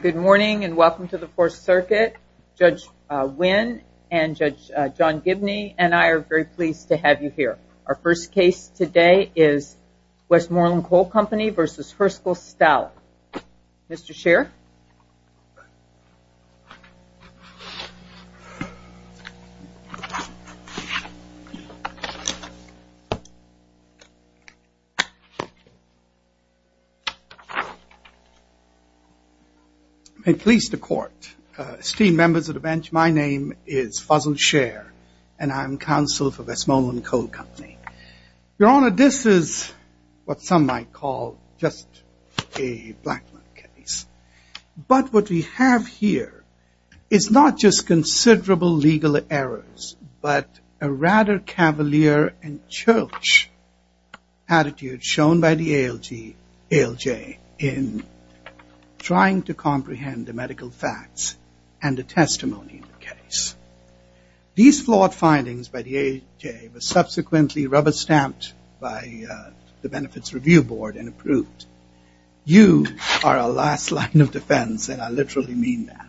Good morning and welcome to the 4th Circuit. Judge Wynn and Judge John Gibney and I are very pleased to have you here. Our first case today is Westmoreland Coal Company v. Herskel Stallard. Mr. Sheriff. May it please the court. Esteemed members of the bench, my name is Fuzzle Share and I'm counsel for Westmoreland Coal Company. Your Honor, this is what some might call just a blackmail case. But what we have here is not just considerable legal errors but a rather cavalier and church attitude shown by the ALJ in trying to comprehend the medical facts and the testimony of the case. These flawed findings by the ALJ were subsequently rubber stamped by the Benefits Review Board and approved. You are a last line of defense and I literally mean that.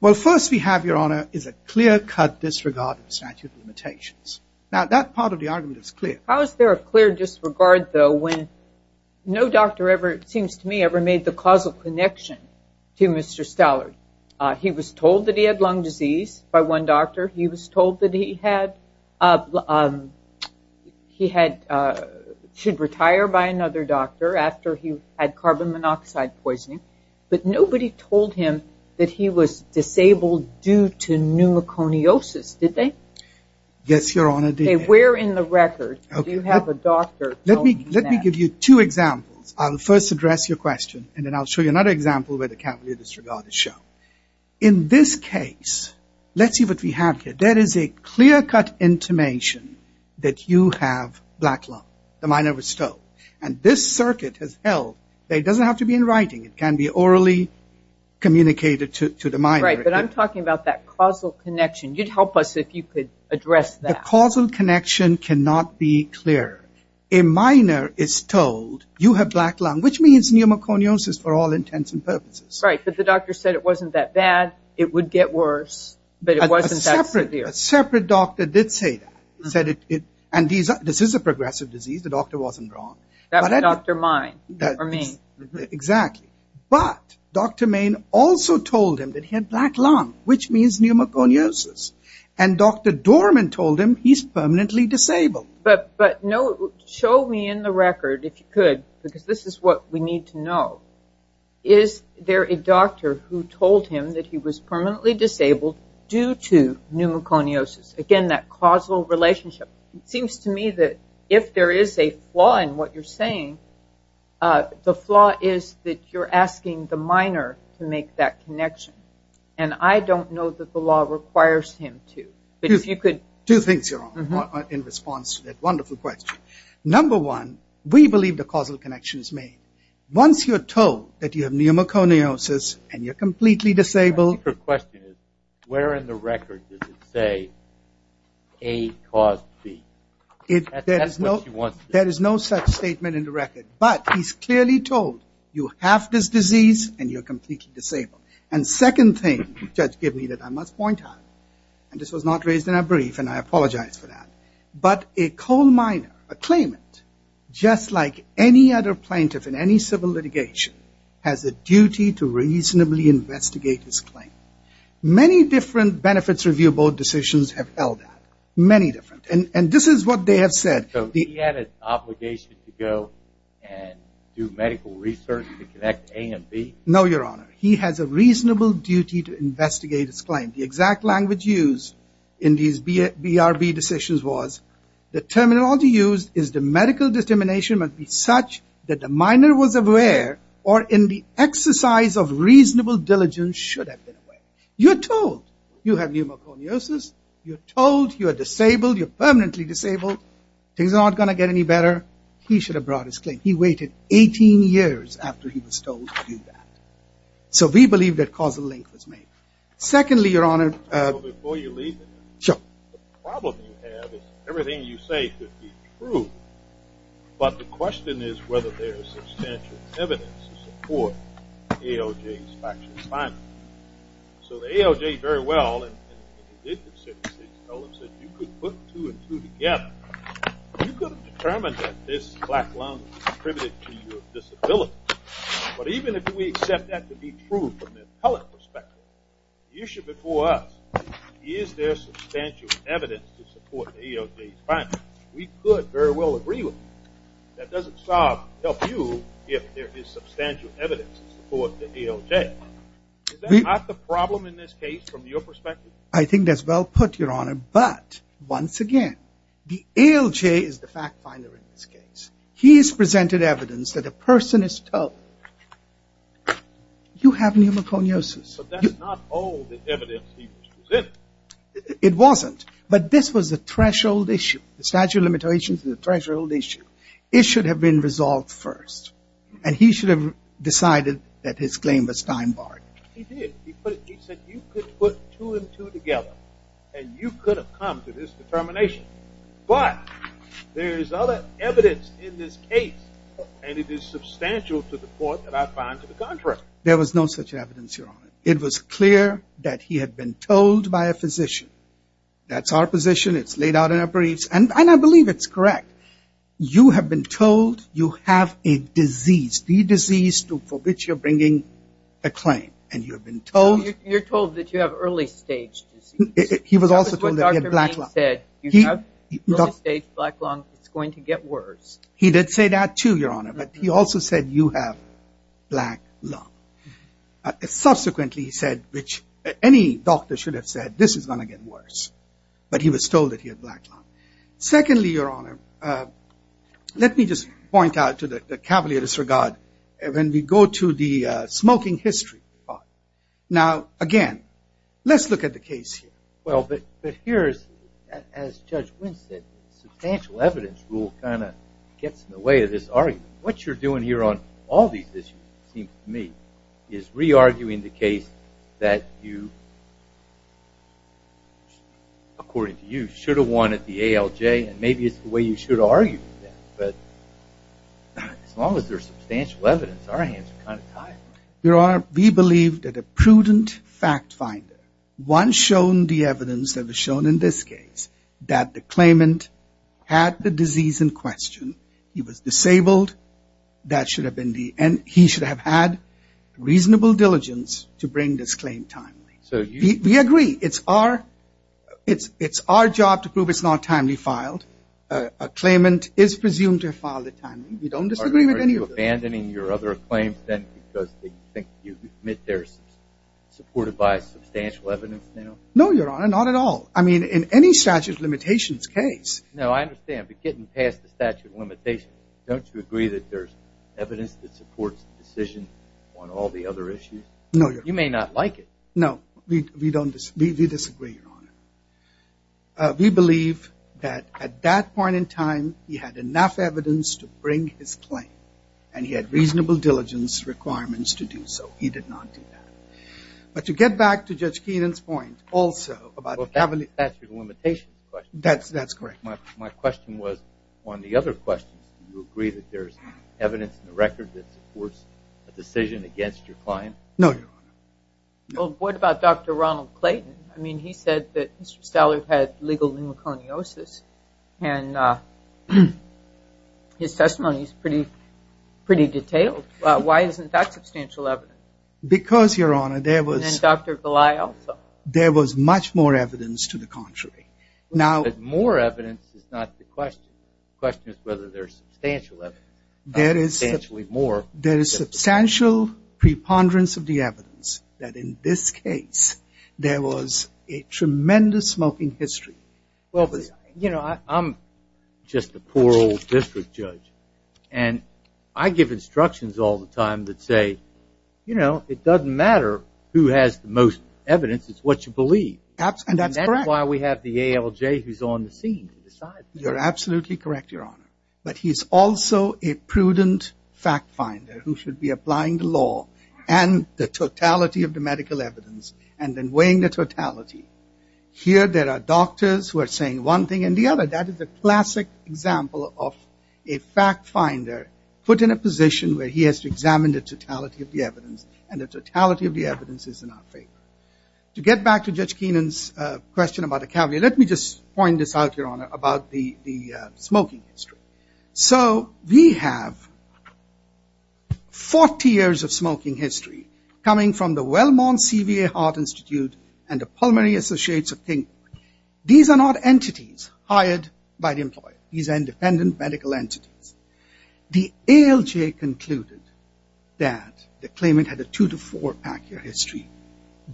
Well first we have, Your Honor, is a clear cut disregard of statute of limitations. Now that part of the argument is clear. How is there a clear disregard though when no doctor ever, it seems to me, ever made the causal connection to Mr. Stallard. He was told that he had lung disease by one doctor. He was told that he should retire by another doctor after he had carbon monoxide poisoning. But nobody told him that he was disabled due to pneumoconiosis, did they? Yes, Your Honor, they did. Where in the record do you have a doctor telling you that? Let me give you two examples. I'll first address your question and then I'll show you another example where the cavalier disregard is shown. In this case, let's see what we have here. There is a clear cut intimation that you have black lung. The minor was told. And this circuit has held that it doesn't have to be in writing. It can be orally communicated to the minor. Right, but I'm talking about that causal connection. You'd help us if you could address that. Causal connection cannot be clear. A minor is told, you have black lung, which means pneumoconiosis for all intents and purposes. Right, but the doctor said it wasn't that bad. It would get worse, but it wasn't that severe. A separate doctor did say that. And this is a progressive disease. The doctor wasn't wrong. That was Dr. Main. Exactly. But Dr. Main also told him that he had black lung, which means pneumoconiosis. And Dr. Dorman told him he's permanently disabled. But show me in the record, if you could, because this is what we need to know. Is there a doctor who told him that he was permanently disabled due to pneumoconiosis? Again, that causal relationship. It seems to me that if there is a flaw in what you're saying, the flaw is that you're asking the minor to make that connection. And I don't know that the law requires him to. Two things in response to that wonderful question. Number one, we believe the causal connection is made. Once you're told that you have pneumoconiosis and you're completely disabled. The question is, where in the record does it say A caused B? There is no such statement in the record. But he's clearly told you have this disease and you're completely disabled. And second thing the judge gave me that I must point out, and this was not raised in our brief and I apologize for that. But a coal miner, a claimant, just like any other plaintiff in any civil litigation, has a duty to reasonably investigate his claim. Many different benefits review board decisions have held that. Many different. And this is what they have said. So he had an obligation to go and do medical research to connect A and B? No, Your Honor. He has a reasonable duty to investigate his claim. The exact language used in these BRB decisions was the terminology used is the medical determination must be such that the miner was aware or in the exercise of reasonable diligence should have been aware. You're told you have pneumoconiosis. You're told you're disabled. You're permanently disabled. Things are not going to get any better. He should have brought his claim. He waited 18 years after he was told to do that. So we believe that causal link was made. Secondly, Your Honor. Before you leave, the problem you have is everything you say could be true. But the question is whether there is substantial evidence to support ALJ's factual findings. So the ALJ very well, and they did the statistics, told us that you could put two and two together. You could have determined that this black lung was attributed to your disability. But even if we accept that to be true from the appellate perspective, the issue before us, is there substantial evidence to support the ALJ's findings? We could very well agree with you. That doesn't help you if there is substantial evidence to support the ALJ. Is that not the problem in this case from your perspective? I think that's well put, Your Honor. But once again, the ALJ is the fact finder in this case. He's presented evidence that a person is told, you have pneumoconiosis. But that's not all the evidence he was presented. It wasn't. But this was a threshold issue. The statute of limitations is a threshold issue. It should have been resolved first. And he should have decided that his claim was time barred. He did. He said you could put two and two together. And you could have come to this determination. But there is other evidence in this case. And it is substantial to the court that I find to the contrary. There was no such evidence, Your Honor. It was clear that he had been told by a physician. That's our position. It's laid out in our briefs. And I believe it's correct. You have been told you have a disease. The disease for which you're bringing a claim. And you have been told. He was also told that he had black lung. He said you have early stage black lung. It's going to get worse. He did say that too, Your Honor. But he also said you have black lung. Subsequently he said, which any doctor should have said, this is going to get worse. But he was told that he had black lung. Secondly, Your Honor, let me just point out to the cavalier disregard. When we go to the smoking history part. Now, again, let's look at the case here. Well, but here, as Judge Wynn said, the substantial evidence rule kind of gets in the way of this argument. What you're doing here on all these issues, it seems to me, is re-arguing the case that you, according to you, should have won at the ALJ. And maybe it's the way you should argue. But as long as there's substantial evidence, our hands are kind of tied. Your Honor, we believe that a prudent fact finder, once shown the evidence that was shown in this case, that the claimant had the disease in question. He was disabled. That should have been the end. He should have had reasonable diligence to bring this claim timely. We agree. It's our job to prove it's not timely filed. A claimant is presumed to have filed it timely. We don't disagree with any of this. Are you abandoning your other claims, then, because you think you admit they're supported by substantial evidence now? No, Your Honor, not at all. I mean, in any statute of limitations case. No, I understand. But getting past the statute of limitations, don't you agree that there's evidence that supports the decision on all the other issues? No, Your Honor. No, we disagree, Your Honor. We believe that at that point in time, he had enough evidence to bring his claim, and he had reasonable diligence requirements to do so. He did not do that. But to get back to Judge Keenan's point also about the statute of limitations question. That's correct. My question was on the other questions. Do you agree that there's evidence in the record that supports a decision against your client? No, Your Honor. Well, what about Dr. Ronald Clayton? I mean, he said that Mr. Stallard had legal pneumoconiosis, and his testimony is pretty detailed. Why isn't that substantial evidence? Because, Your Honor, there was much more evidence to the contrary. More evidence is not the question. The question is whether there's substantial evidence, substantially more. There is substantial preponderance of the evidence that in this case, there was a tremendous smoking history. Well, you know, I'm just a poor old district judge. And I give instructions all the time that say, you know, it doesn't matter who has the most evidence. It's what you believe. And that's why we have the ALJ who's on the scene to decide. You're absolutely correct, Your Honor. But he's also a prudent fact finder who should be applying the law and the totality of the medical evidence and then weighing the totality. Here, there are doctors who are saying one thing and the other. That is a classic example of a fact finder put in a position where he has to examine the totality of the evidence. And the totality of the evidence is in our favor. To get back to Judge Keenan's question about a caveat, let me just point this out, Your Honor, about the smoking history. So we have 40 years of smoking history coming from the Wellmont CVA Heart Institute and the Pulmonary Associates of King County. These are not entities hired by the employer. These are independent medical entities. The ALJ concluded that the claimant had a two to four-pack year history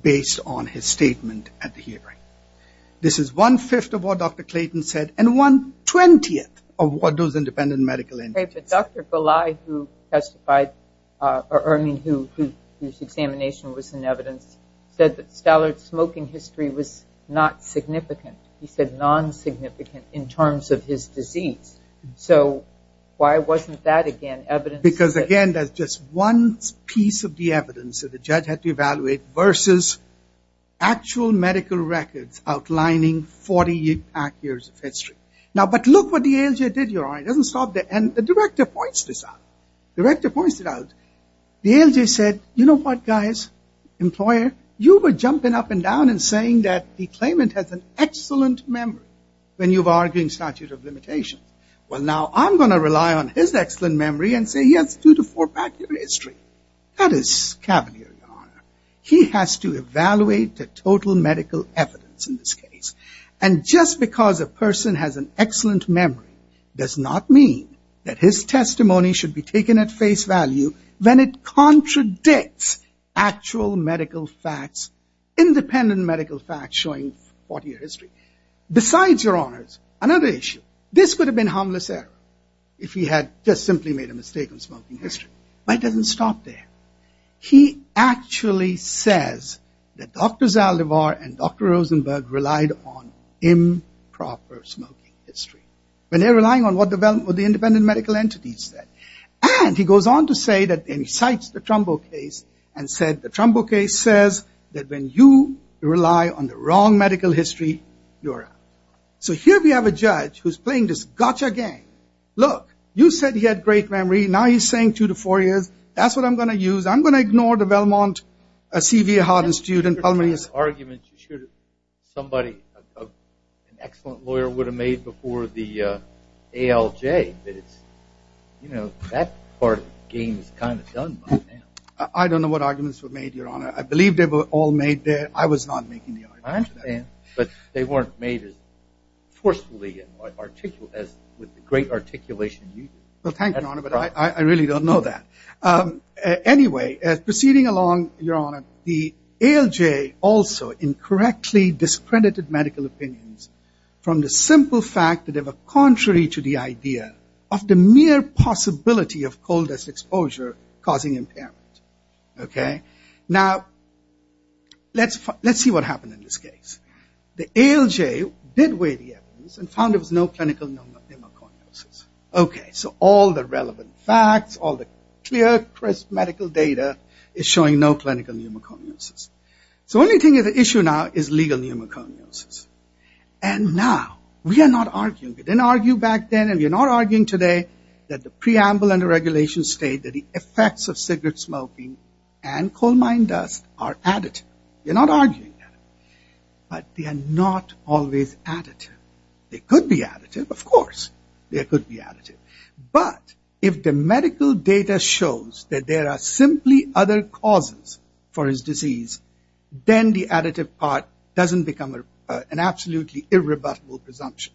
based on his statement at the hearing. This is one-fifth of what Dr. Clayton said and one-twentieth of what those independent medical entities said. But Dr. Belay, who testified, I mean, whose examination was in evidence, said that Stallard's smoking history was not significant. He said non-significant in terms of his disease. So why wasn't that, again, evidence? Because, again, that's just one piece of the evidence that the judge had to evaluate versus actual medical records outlining 40-pack years of history. Now, but look what the ALJ did, Your Honor. It doesn't stop there. And the director points this out. The director points it out. The ALJ said, you know what, guys, employer? You were jumping up and down and saying that the claimant has an excellent memory when you were arguing statute of limitations. Well, now I'm going to rely on his excellent memory and say he has a two to four-pack year history. That is cavalier, Your Honor. He has to evaluate the total medical evidence in this case. And just because a person has an excellent memory does not mean that his testimony should be taken at face value when it contradicts actual medical facts, independent medical facts showing 40-year history. Besides, Your Honors, another issue, this could have been harmless error if he had just simply made a mistake on smoking history. But it doesn't stop there. He actually says that Dr. Zaldivar and Dr. Rosenberg relied on improper smoking history when they're relying on what the independent medical entities said. And he goes on to say that, and he cites the Trumbo case and said the Trumbo case says that when you rely on the wrong medical history, you're out. So here we have a judge who's playing this gotcha game. Look, you said he had great memory. Now he's saying two to four years. That's what I'm going to use. I'm going to ignore the Belmont, a C.V. Harden student, Palmier's argument. Somebody, an excellent lawyer would have made before the ALJ. You know, that part of the game is kind of done by now. I don't know what arguments were made, Your Honor. I believe they were all made there. I was not making the argument. I understand. But they weren't made as forcefully as with the great articulation you did. Well, thank you, Your Honor, but I really don't know that. Anyway, proceeding along, Your Honor, the ALJ also incorrectly discredited medical opinions from the simple fact that they were contrary to the idea of the mere possibility of coal dust exposure causing impairment. Okay? Now, let's see what happened in this case. The ALJ did weigh the evidence and found there was no clinical pneumoconiosis. Okay, so all the relevant facts, all the clear, crisp medical data is showing no clinical pneumoconiosis. So the only thing at issue now is legal pneumoconiosis. And now, we are not arguing. We didn't argue back then and we are not arguing today that the preamble and the regulations state that the effects of cigarette smoking and coal mine dust are additive. We're not arguing that. But they are not always additive. They could be additive, of course. They could be additive. But if the medical data shows that there are simply other causes for this disease, then the additive part doesn't become an absolutely irrebuttable presumption.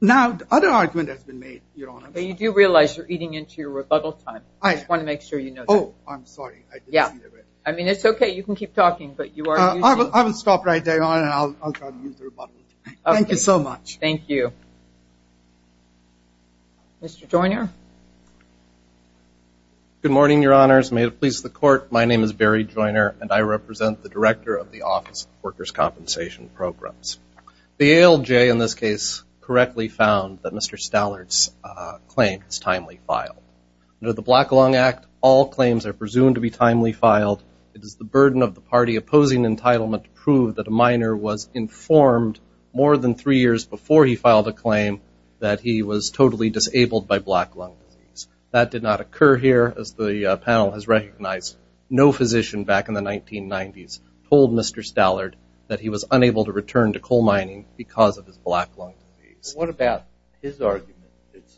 Now, the other argument has been made, Your Honor. Well, you do realize you're eating into your rebuttal time. I just want to make sure you know that. Oh, I'm sorry. Yeah. I mean, it's okay. You can keep talking. I will stop right there and I'll use the rebuttal. Thank you so much. Thank you. Mr. Joyner. Good morning, Your Honors. May it please the Court, my name is Barry Joyner, and I represent the Director of the Office of Workers' Compensation Programs. The ALJ in this case correctly found that Mr. Stallard's claim is timely filed. Under the Black Lung Act, all claims are presumed to be timely filed. It is the burden of the party opposing entitlement to prove that a minor was informed more than three years before he filed a claim that he was totally disabled by black lung disease. That did not occur here, as the panel has recognized. No physician back in the 1990s told Mr. Stallard that he was unable to return to coal mining because of his black lung disease. What about his argument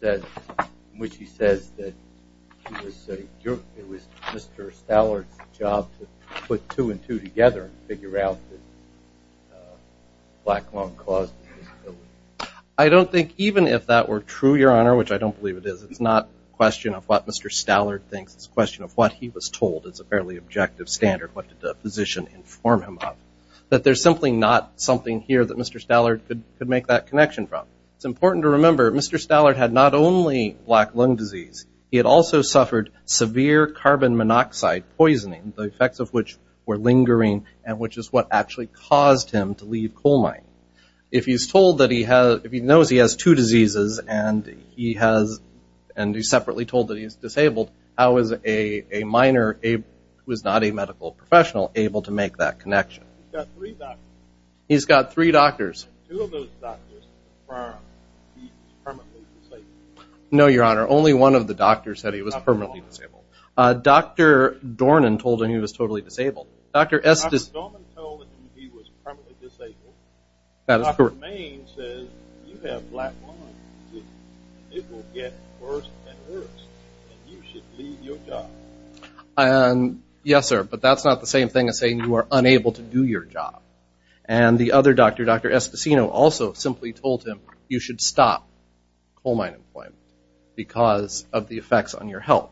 in which he says that it was Mr. Stallard's job to put two and two together and figure out that black lung caused his disability? I don't think even if that were true, Your Honor, which I don't believe it is, it's not a question of what Mr. Stallard thinks. It's a question of what he was told. It's a fairly objective standard. What did the physician inform him of? That there's simply not something here that Mr. Stallard could make that connection from. It's important to remember Mr. Stallard had not only black lung disease. He had also suffered severe carbon monoxide poisoning, the effects of which were lingering and which is what actually caused him to leave coal mining. If he's told that he has – if he knows he has two diseases and he has – and he's separately told that he's disabled, how is a minor who is not a medical professional able to make that connection? He's got three doctors. He's got three doctors. Two of those doctors confirmed he was permanently disabled. No, Your Honor. Only one of the doctors said he was permanently disabled. Dr. Dornan told him he was totally disabled. Dr. Dornan told him he was permanently disabled. That is correct. Dr. Romaine says you have black lung disease. It will get worse and worse and you should leave your job. Yes, sir. But that's not the same thing as saying you are unable to do your job. And the other doctor, Dr. Esposino, also simply told him you should stop coal mine employment because of the effects on your health.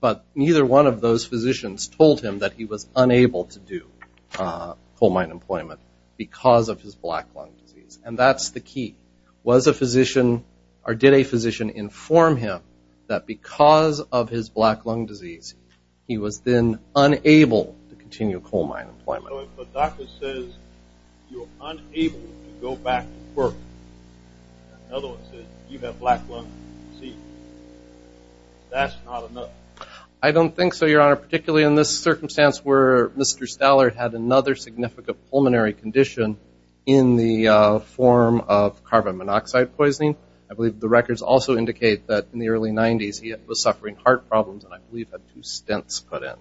But neither one of those physicians told him that he was unable to do coal mine employment because of his black lung disease. And that's the key. Was a physician or did a physician inform him that because of his black lung disease he was then unable to continue coal mine employment? So if a doctor says you're unable to go back to work, and another one says you have black lung disease, that's not enough. I don't think so, Your Honor, particularly in this circumstance where Mr. Stallard had another significant pulmonary condition in the form of carbon monoxide poisoning. I believe the records also indicate that in the early 90s he was suffering heart problems and I believe had two stents put in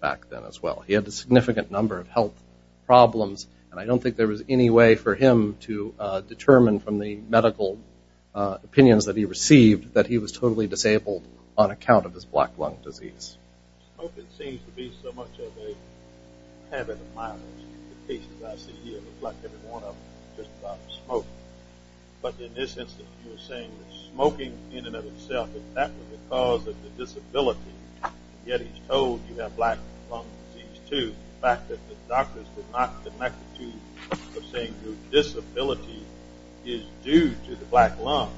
back then as well. He had a significant number of health problems, and I don't think there was any way for him to determine from the medical opinions that he received that he was totally disabled on account of his smoking seems to be so much of a habit of mine. The cases I see here look like every one of them is just about smoking. But in this instance you're saying that smoking in and of itself is definitely the cause of the disability, yet he's told you have black lung disease too. The fact that the doctors did not connect the two groups of saying your disability is due to the black lung,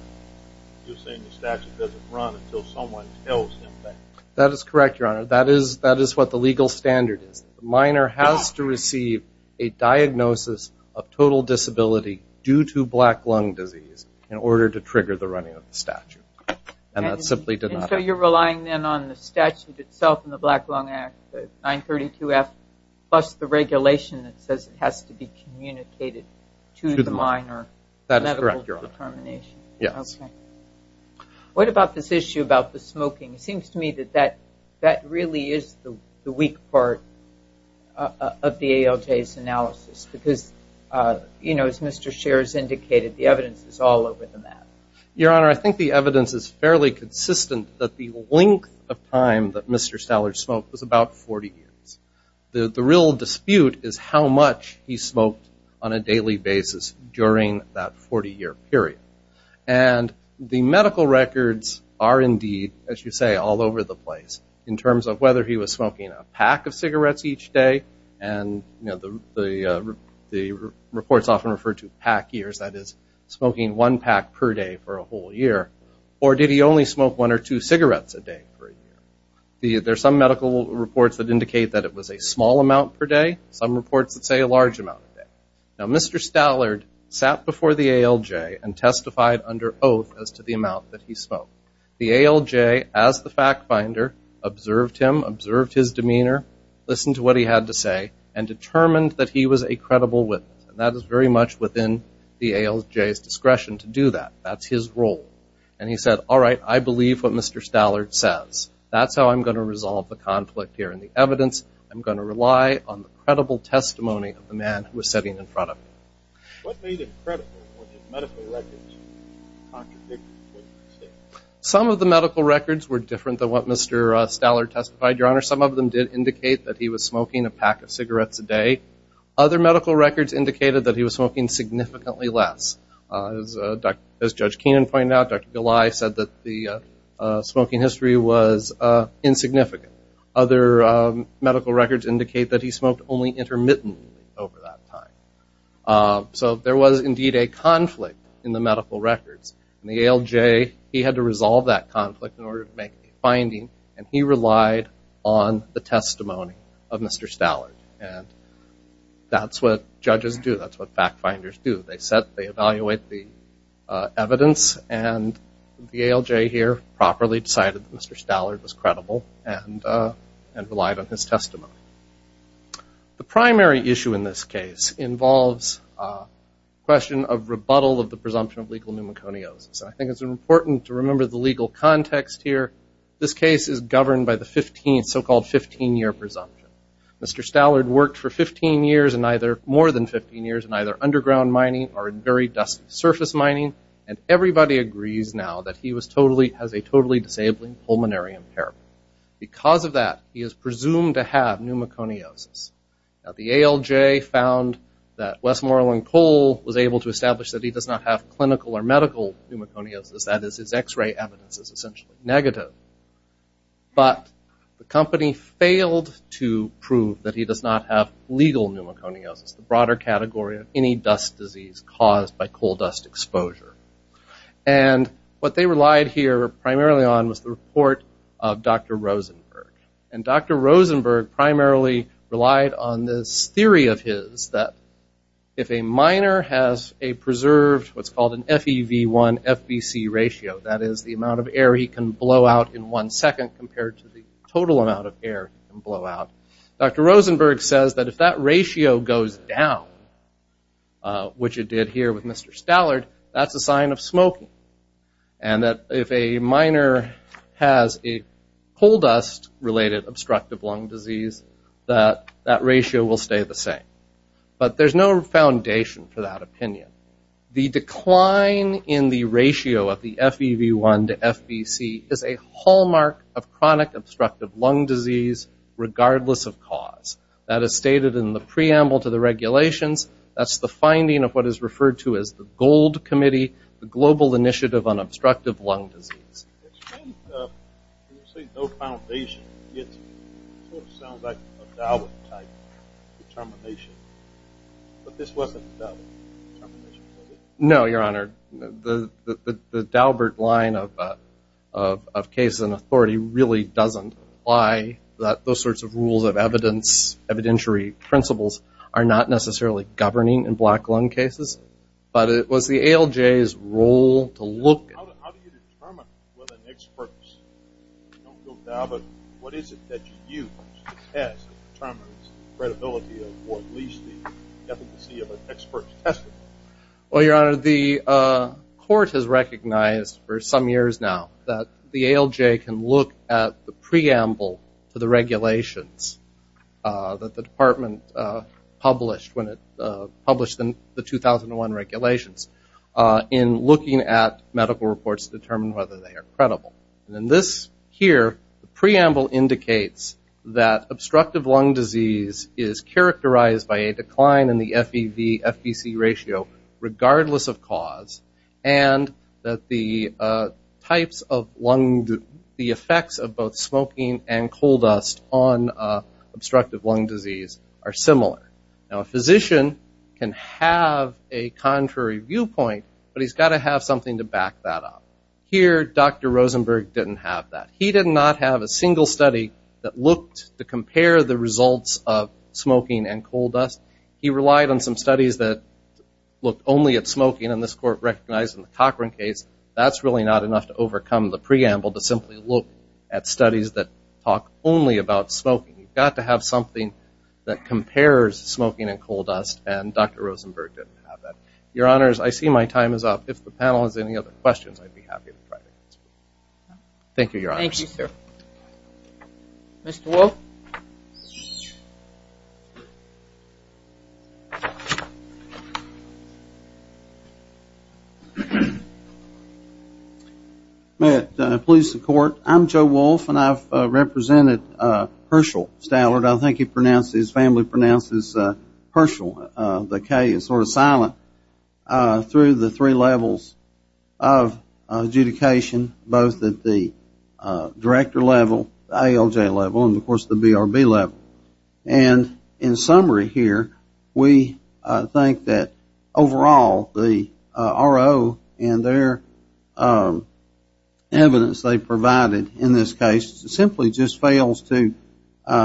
you're saying the statute doesn't run until someone tells him that. That is correct, Your Honor. That is what the legal standard is. The minor has to receive a diagnosis of total disability due to black lung disease in order to trigger the running of the statute. And that simply did not happen. So you're relying then on the statute itself and the Black Lung Act, 932F, plus the regulation that says it has to be communicated to the minor. That is correct, Your Honor. Yes. Okay. What about this issue about the smoking? It seems to me that that really is the weak part of the ALJ's analysis because, you know, as Mr. Scherz indicated, the evidence is all over the map. Your Honor, I think the evidence is fairly consistent that the length of time that Mr. Stallard smoked was about 40 years. The real dispute is how much he smoked on a daily basis during that 40-year period. And the medical records are indeed, as you say, all over the place in terms of whether he was smoking a pack of cigarettes each day. And, you know, the reports often refer to pack years. That is smoking one pack per day for a whole year. Or did he only smoke one or two cigarettes a day for a year? There's some medical reports that indicate that it was a small amount per day, some reports that say a large amount a day. Now, Mr. Stallard sat before the ALJ and testified under oath as to the amount that he smoked. The ALJ, as the fact finder, observed him, observed his demeanor, listened to what he had to say, and determined that he was a credible witness. And that is very much within the ALJ's discretion to do that. That's his role. And he said, all right, I believe what Mr. Stallard says. That's how I'm going to resolve the conflict here in the evidence. I'm going to rely on the credible testimony of the man who was sitting in front of him. What made him credible? Were his medical records contradicting what he said? Some of the medical records were different than what Mr. Stallard testified, Your Honor. Some of them did indicate that he was smoking a pack of cigarettes a day. Other medical records indicated that he was smoking significantly less. As Judge Keenan pointed out, Dr. Goli said that the smoking history was insignificant. Other medical records indicate that he smoked only intermittently over that time. So there was indeed a conflict in the medical records. And the ALJ, he had to resolve that conflict in order to make a finding, and he relied on the testimony of Mr. Stallard. And that's what judges do. That's what fact finders do. They evaluate the evidence, and the ALJ here properly decided that Mr. Stallard was credible. And relied on his testimony. The primary issue in this case involves a question of rebuttal of the presumption of legal pneumoconiosis. I think it's important to remember the legal context here. This case is governed by the so-called 15-year presumption. Mr. Stallard worked for 15 years and either more than 15 years in either underground mining or in very dusty surface mining, and everybody agrees now that he has a totally disabling pulmonary impairment. Because of that, he is presumed to have pneumoconiosis. The ALJ found that Westmoreland Coal was able to establish that he does not have clinical or medical pneumoconiosis. That is, his X-ray evidence is essentially negative. But the company failed to prove that he does not have legal pneumoconiosis, the broader category of any dust disease caused by coal dust exposure. And what they relied here primarily on was the report of Dr. Rosenberg. And Dr. Rosenberg primarily relied on this theory of his that if a miner has a preserved what's called an FEV1-FBC ratio, that is the amount of air he can blow out in one second compared to the total amount of air he can blow out, Dr. Rosenberg says that if that ratio goes down, which it did here with Mr. Stallard, that's a sign of smoking. And that if a miner has a coal dust-related obstructive lung disease, that that ratio will stay the same. But there's no foundation for that opinion. The decline in the ratio of the FEV1 to FBC is a hallmark of chronic obstructive lung disease, regardless of cause. That is stated in the preamble to the regulations. That's the finding of what is referred to as the GOLD Committee, the Global Initiative on Obstructive Lung Disease. It seems that when you say no foundation, it sort of sounds like a Daubert type determination. But this wasn't a Daubert determination, was it? No, Your Honor. The Daubert line of case and authority really doesn't apply. Those sorts of rules of evidence, evidentiary principles, are not necessarily governing in black lung cases. But it was the ALJ's role to look at it. Well, Your Honor, the court has recognized for some years now that the ALJ can look at the preamble to the regulations that the department published when it published the 2001 regulations in looking at medical reports to determine whether they are credible. In this here, the preamble indicates that obstructive lung disease is characterized by a decline in the FEV, FBC ratio, regardless of cause, and that the effects of both smoking and coal dust on obstructive lung disease are similar. Now, a physician can have a contrary viewpoint, but he's got to have something to back that up. Here, Dr. Rosenberg didn't have that. He did not have a single study that looked to compare the results of smoking and coal dust. He relied on some studies that looked only at smoking, and this court recognized in the Cochran case that's really not enough to overcome the preamble to simply look at studies that talk only about smoking. You've got to have something that compares smoking and coal dust, and Dr. Rosenberg didn't have that. Your Honors, I see my time is up. If the panel has any other questions, I'd be happy to try to answer them. Thank you, Your Honors. Thank you, sir. Mr. Wolfe? May it please the Court, I'm Joe Wolfe, and I've represented Herschel Stallard. I think his family pronounces Herschel, the K, as sort of silent through the three levels of adjudication, both at the director level, the ALJ level, and, of course, the BRB level. And in summary here, we think that overall the RO and their evidence they provided in this case simply just fails to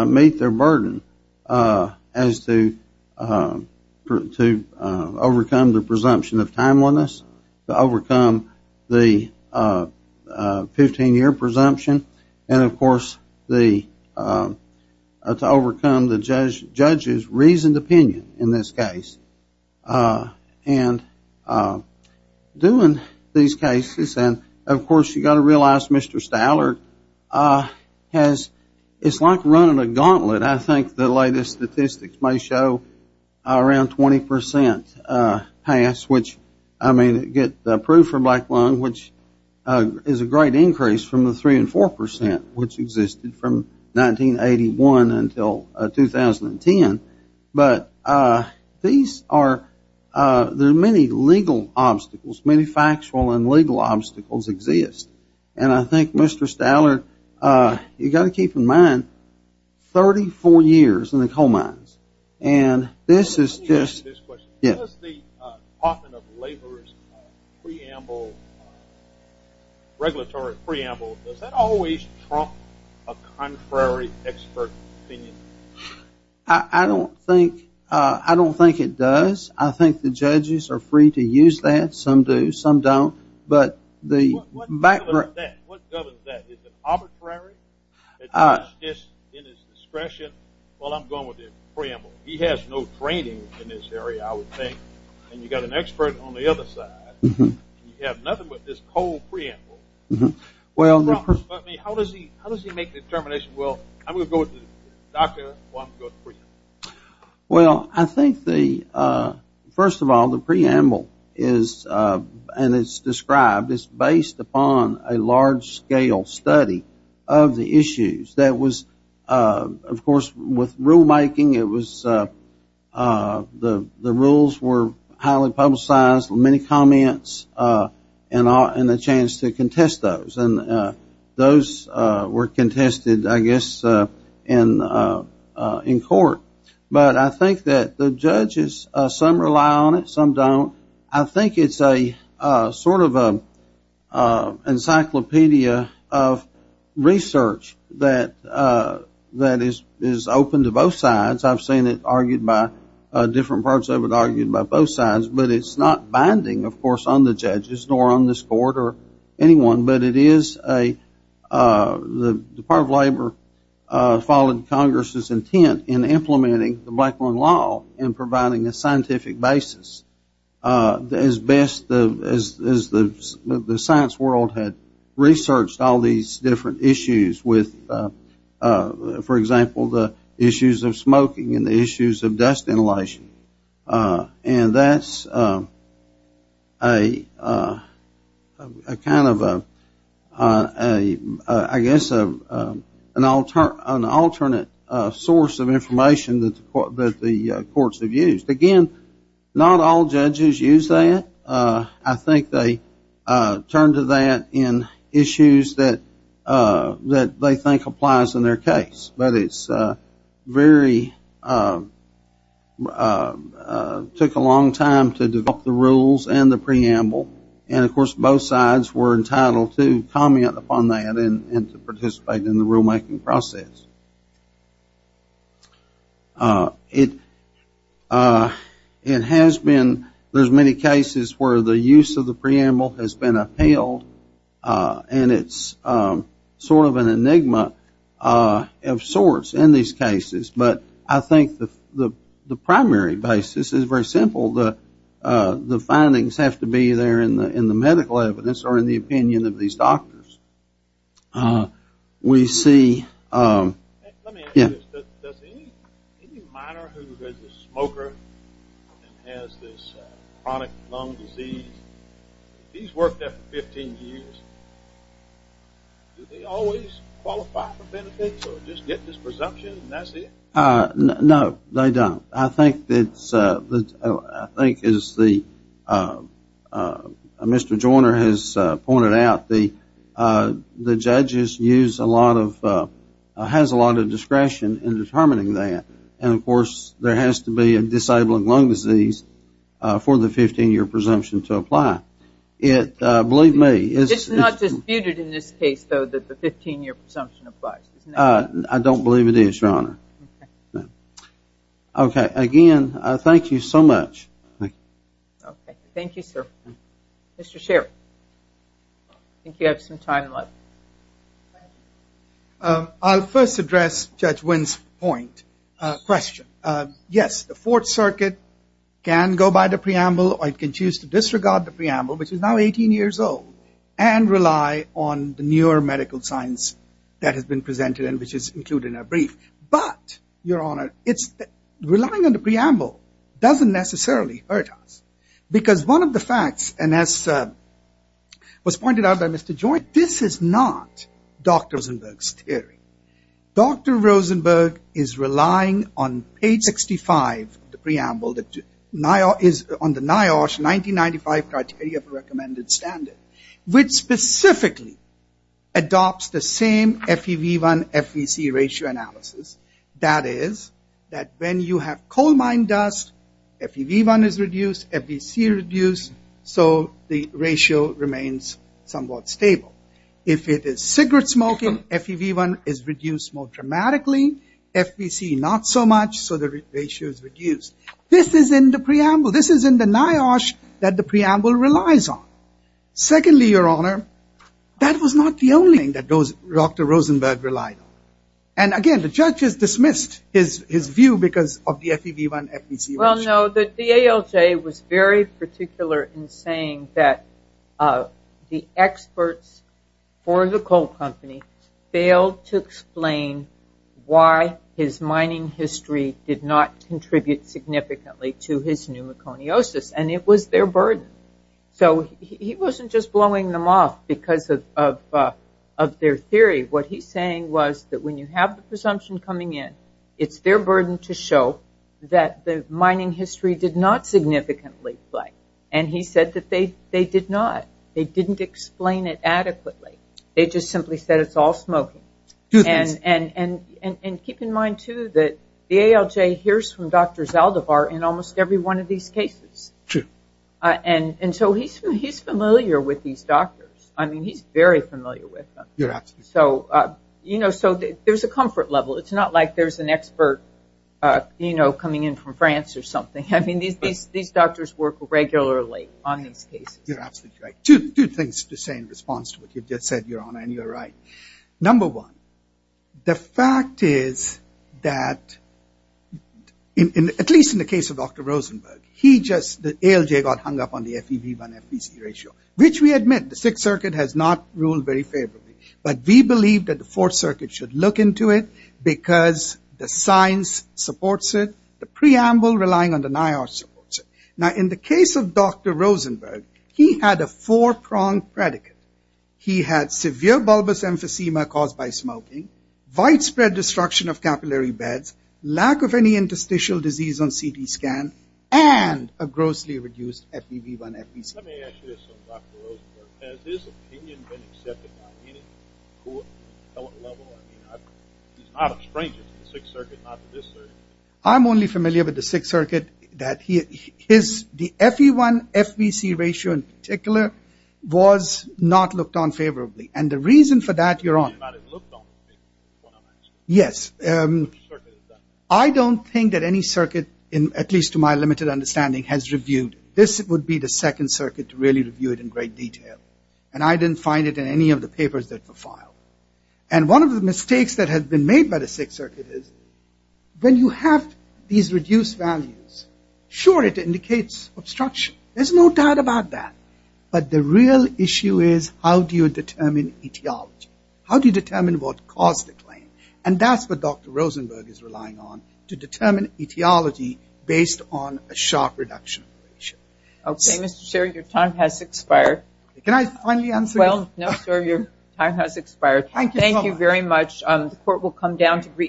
meet their burden as to overcome the presumption of timeliness, to overcome the 15-year presumption, and, of course, to overcome the judge's reasoned opinion in this case. And doing these cases, and, of course, you've got to realize Mr. Stallard has, it's like running a gauntlet. I think the latest statistics may show around 20% pass, which, I mean, get approved for black lung, which is a great increase from the 3% and 4%, which existed from 1981 until 2010. But these are, there are many legal obstacles, many factual and legal obstacles exist. And I think Mr. Stallard, you've got to keep in mind, 34 years in the coal mines, and this is just. Let me ask this question. Does the Department of Labor's preamble, regulatory preamble, does that always trump a contrary expert opinion? I don't think, I don't think it does. I think the judges are free to use that. Some do, some don't. But the background. What governs that? Is it arbitrary? Is it in his discretion? Well, I'm going with the preamble. He has no training in this area, I would think. And you've got an expert on the other side. You have nothing but this coal preamble. How does he make the determination, well, I'm going to go with the doctor or I'm going to go with the preamble? Well, I think the, first of all, the preamble is, and it's described, it's based upon a large-scale study of the issues. That was, of course, with rulemaking, it was, the rules were highly publicized, many comments, and the chance to contest those. And those were contested, I guess, in court. But I think that the judges, some rely on it, some don't. I think it's a sort of an encyclopedia of research that is open to both sides. I've seen it argued by different parts of it argued by both sides. But it's not binding, of course, on the judges nor on this court or anyone. But it is a, the Department of Labor followed Congress's intent in implementing the Blackburn Law and providing a scientific basis. As best as the science world had researched all these different issues with, for example, the issues of smoking and the issues of dust inhalation. And that's a kind of a, I guess, an alternate source of information that the courts have used. Again, not all judges use that. I think they turn to that in issues that they think applies in their case. But it's very, took a long time to develop the rules and the preamble. And, of course, both sides were entitled to comment upon that and to participate in the rulemaking process. It has been, there's many cases where the use of the preamble has been upheld. And it's sort of an enigma of sorts in these cases. But I think the primary basis is very simple. The findings have to be there in the medical evidence or in the opinion of these doctors. We see, yeah. Does any minor who is a smoker and has this chronic lung disease, he's worked there for 15 years, do they always qualify for benefits or just get this presumption and that's it? No, they don't. I think it's, I think as Mr. Joyner has pointed out, the judges use a lot of, has a lot of discretion in determining that. And, of course, there has to be a disabling lung disease for the 15-year presumption to apply. Believe me. It's not disputed in this case, though, that the 15-year presumption applies, isn't it? I don't believe it is, Your Honor. Okay. Again, thank you so much. Thank you, sir. Mr. Sherry, I think you have some time left. I'll first address Judge Wynn's point, question. Yes, the Fourth Circuit can go by the preamble or it can choose to disregard the preamble, which is now 18 years old, and rely on the newer medical science that has been presented and which is included in our brief. But, Your Honor, relying on the preamble doesn't necessarily hurt us because one of the facts, and as was pointed out by Mr. Joyner, this is not Dr. Rosenberg's theory. Dr. Rosenberg is relying on page 65 of the preamble that is on the NIOSH 1995 criteria for recommended standard, which specifically adopts the same FEV1-FVC ratio analysis. That is that when you have coal mine dust, FEV1 is reduced, FVC is reduced. So, the ratio remains somewhat stable. If it is cigarette smoking, FEV1 is reduced more dramatically, FVC not so much, so the ratio is reduced. This is in the preamble. This is in the NIOSH that the preamble relies on. Secondly, Your Honor, that was not the only thing that Dr. Rosenberg relied on. And, again, the judge has dismissed his view because of the FEV1-FVC ratio. Well, no, the ALJ was very particular in saying that the experts for the coal company failed to explain why his mining history did not contribute significantly to his pneumoconiosis, and it was their burden. So he wasn't just blowing them off because of their theory. What he's saying was that when you have the presumption coming in, it's their burden to show that the mining history did not significantly play. And he said that they did not. They didn't explain it adequately. They just simply said it's all smoking. And keep in mind, too, that the ALJ hears from Dr. Zaldivar in almost every one of these cases. Sure. And so he's familiar with these doctors. I mean, he's very familiar with them. You're absolutely right. So, you know, there's a comfort level. It's not like there's an expert, you know, coming in from France or something. I mean, these doctors work regularly on these cases. You're absolutely right. Two things to say in response to what you've just said, Your Honor, and you're right. Number one, the fact is that, at least in the case of Dr. Rosenberg, he just, the ALJ got hung up on the FEV1-FVC ratio, which we admit, the Sixth Circuit has not ruled very favorably. But we believe that the Fourth Circuit should look into it because the science supports it. The preamble relying on the NIOSH supports it. Now, in the case of Dr. Rosenberg, he had a four-pronged predicate. He had severe bulbous emphysema caused by smoking, widespread destruction of capillary beds, lack of any interstitial disease on CT scan, and a grossly reduced FEV1-FVC. Let me ask you this on Dr. Rosenberg. Has his opinion been accepted on any court level? I mean, he's not a stranger to the Sixth Circuit, not to this circuit. I'm only familiar with the Sixth Circuit. The FEV1-FVC ratio in particular was not looked on favorably. And the reason for that, Your Honor, Yes. I don't think that any circuit, at least to my limited understanding, has reviewed. This would be the Second Circuit to really review it in great detail. And I didn't find it in any of the papers that were filed. And one of the mistakes that has been made by the Sixth Circuit is when you have these reduced values, sure, it indicates obstruction. There's no doubt about that. But the real issue is how do you determine etiology? How do you determine what caused the claim? And that's what Dr. Rosenberg is relying on, to determine etiology based on a sharp reduction. Okay, Mr. Sherry, your time has expired. Can I finally answer? Well, no, sir, your time has expired. Thank you so much. Thank you very much. The Court will come down to brief.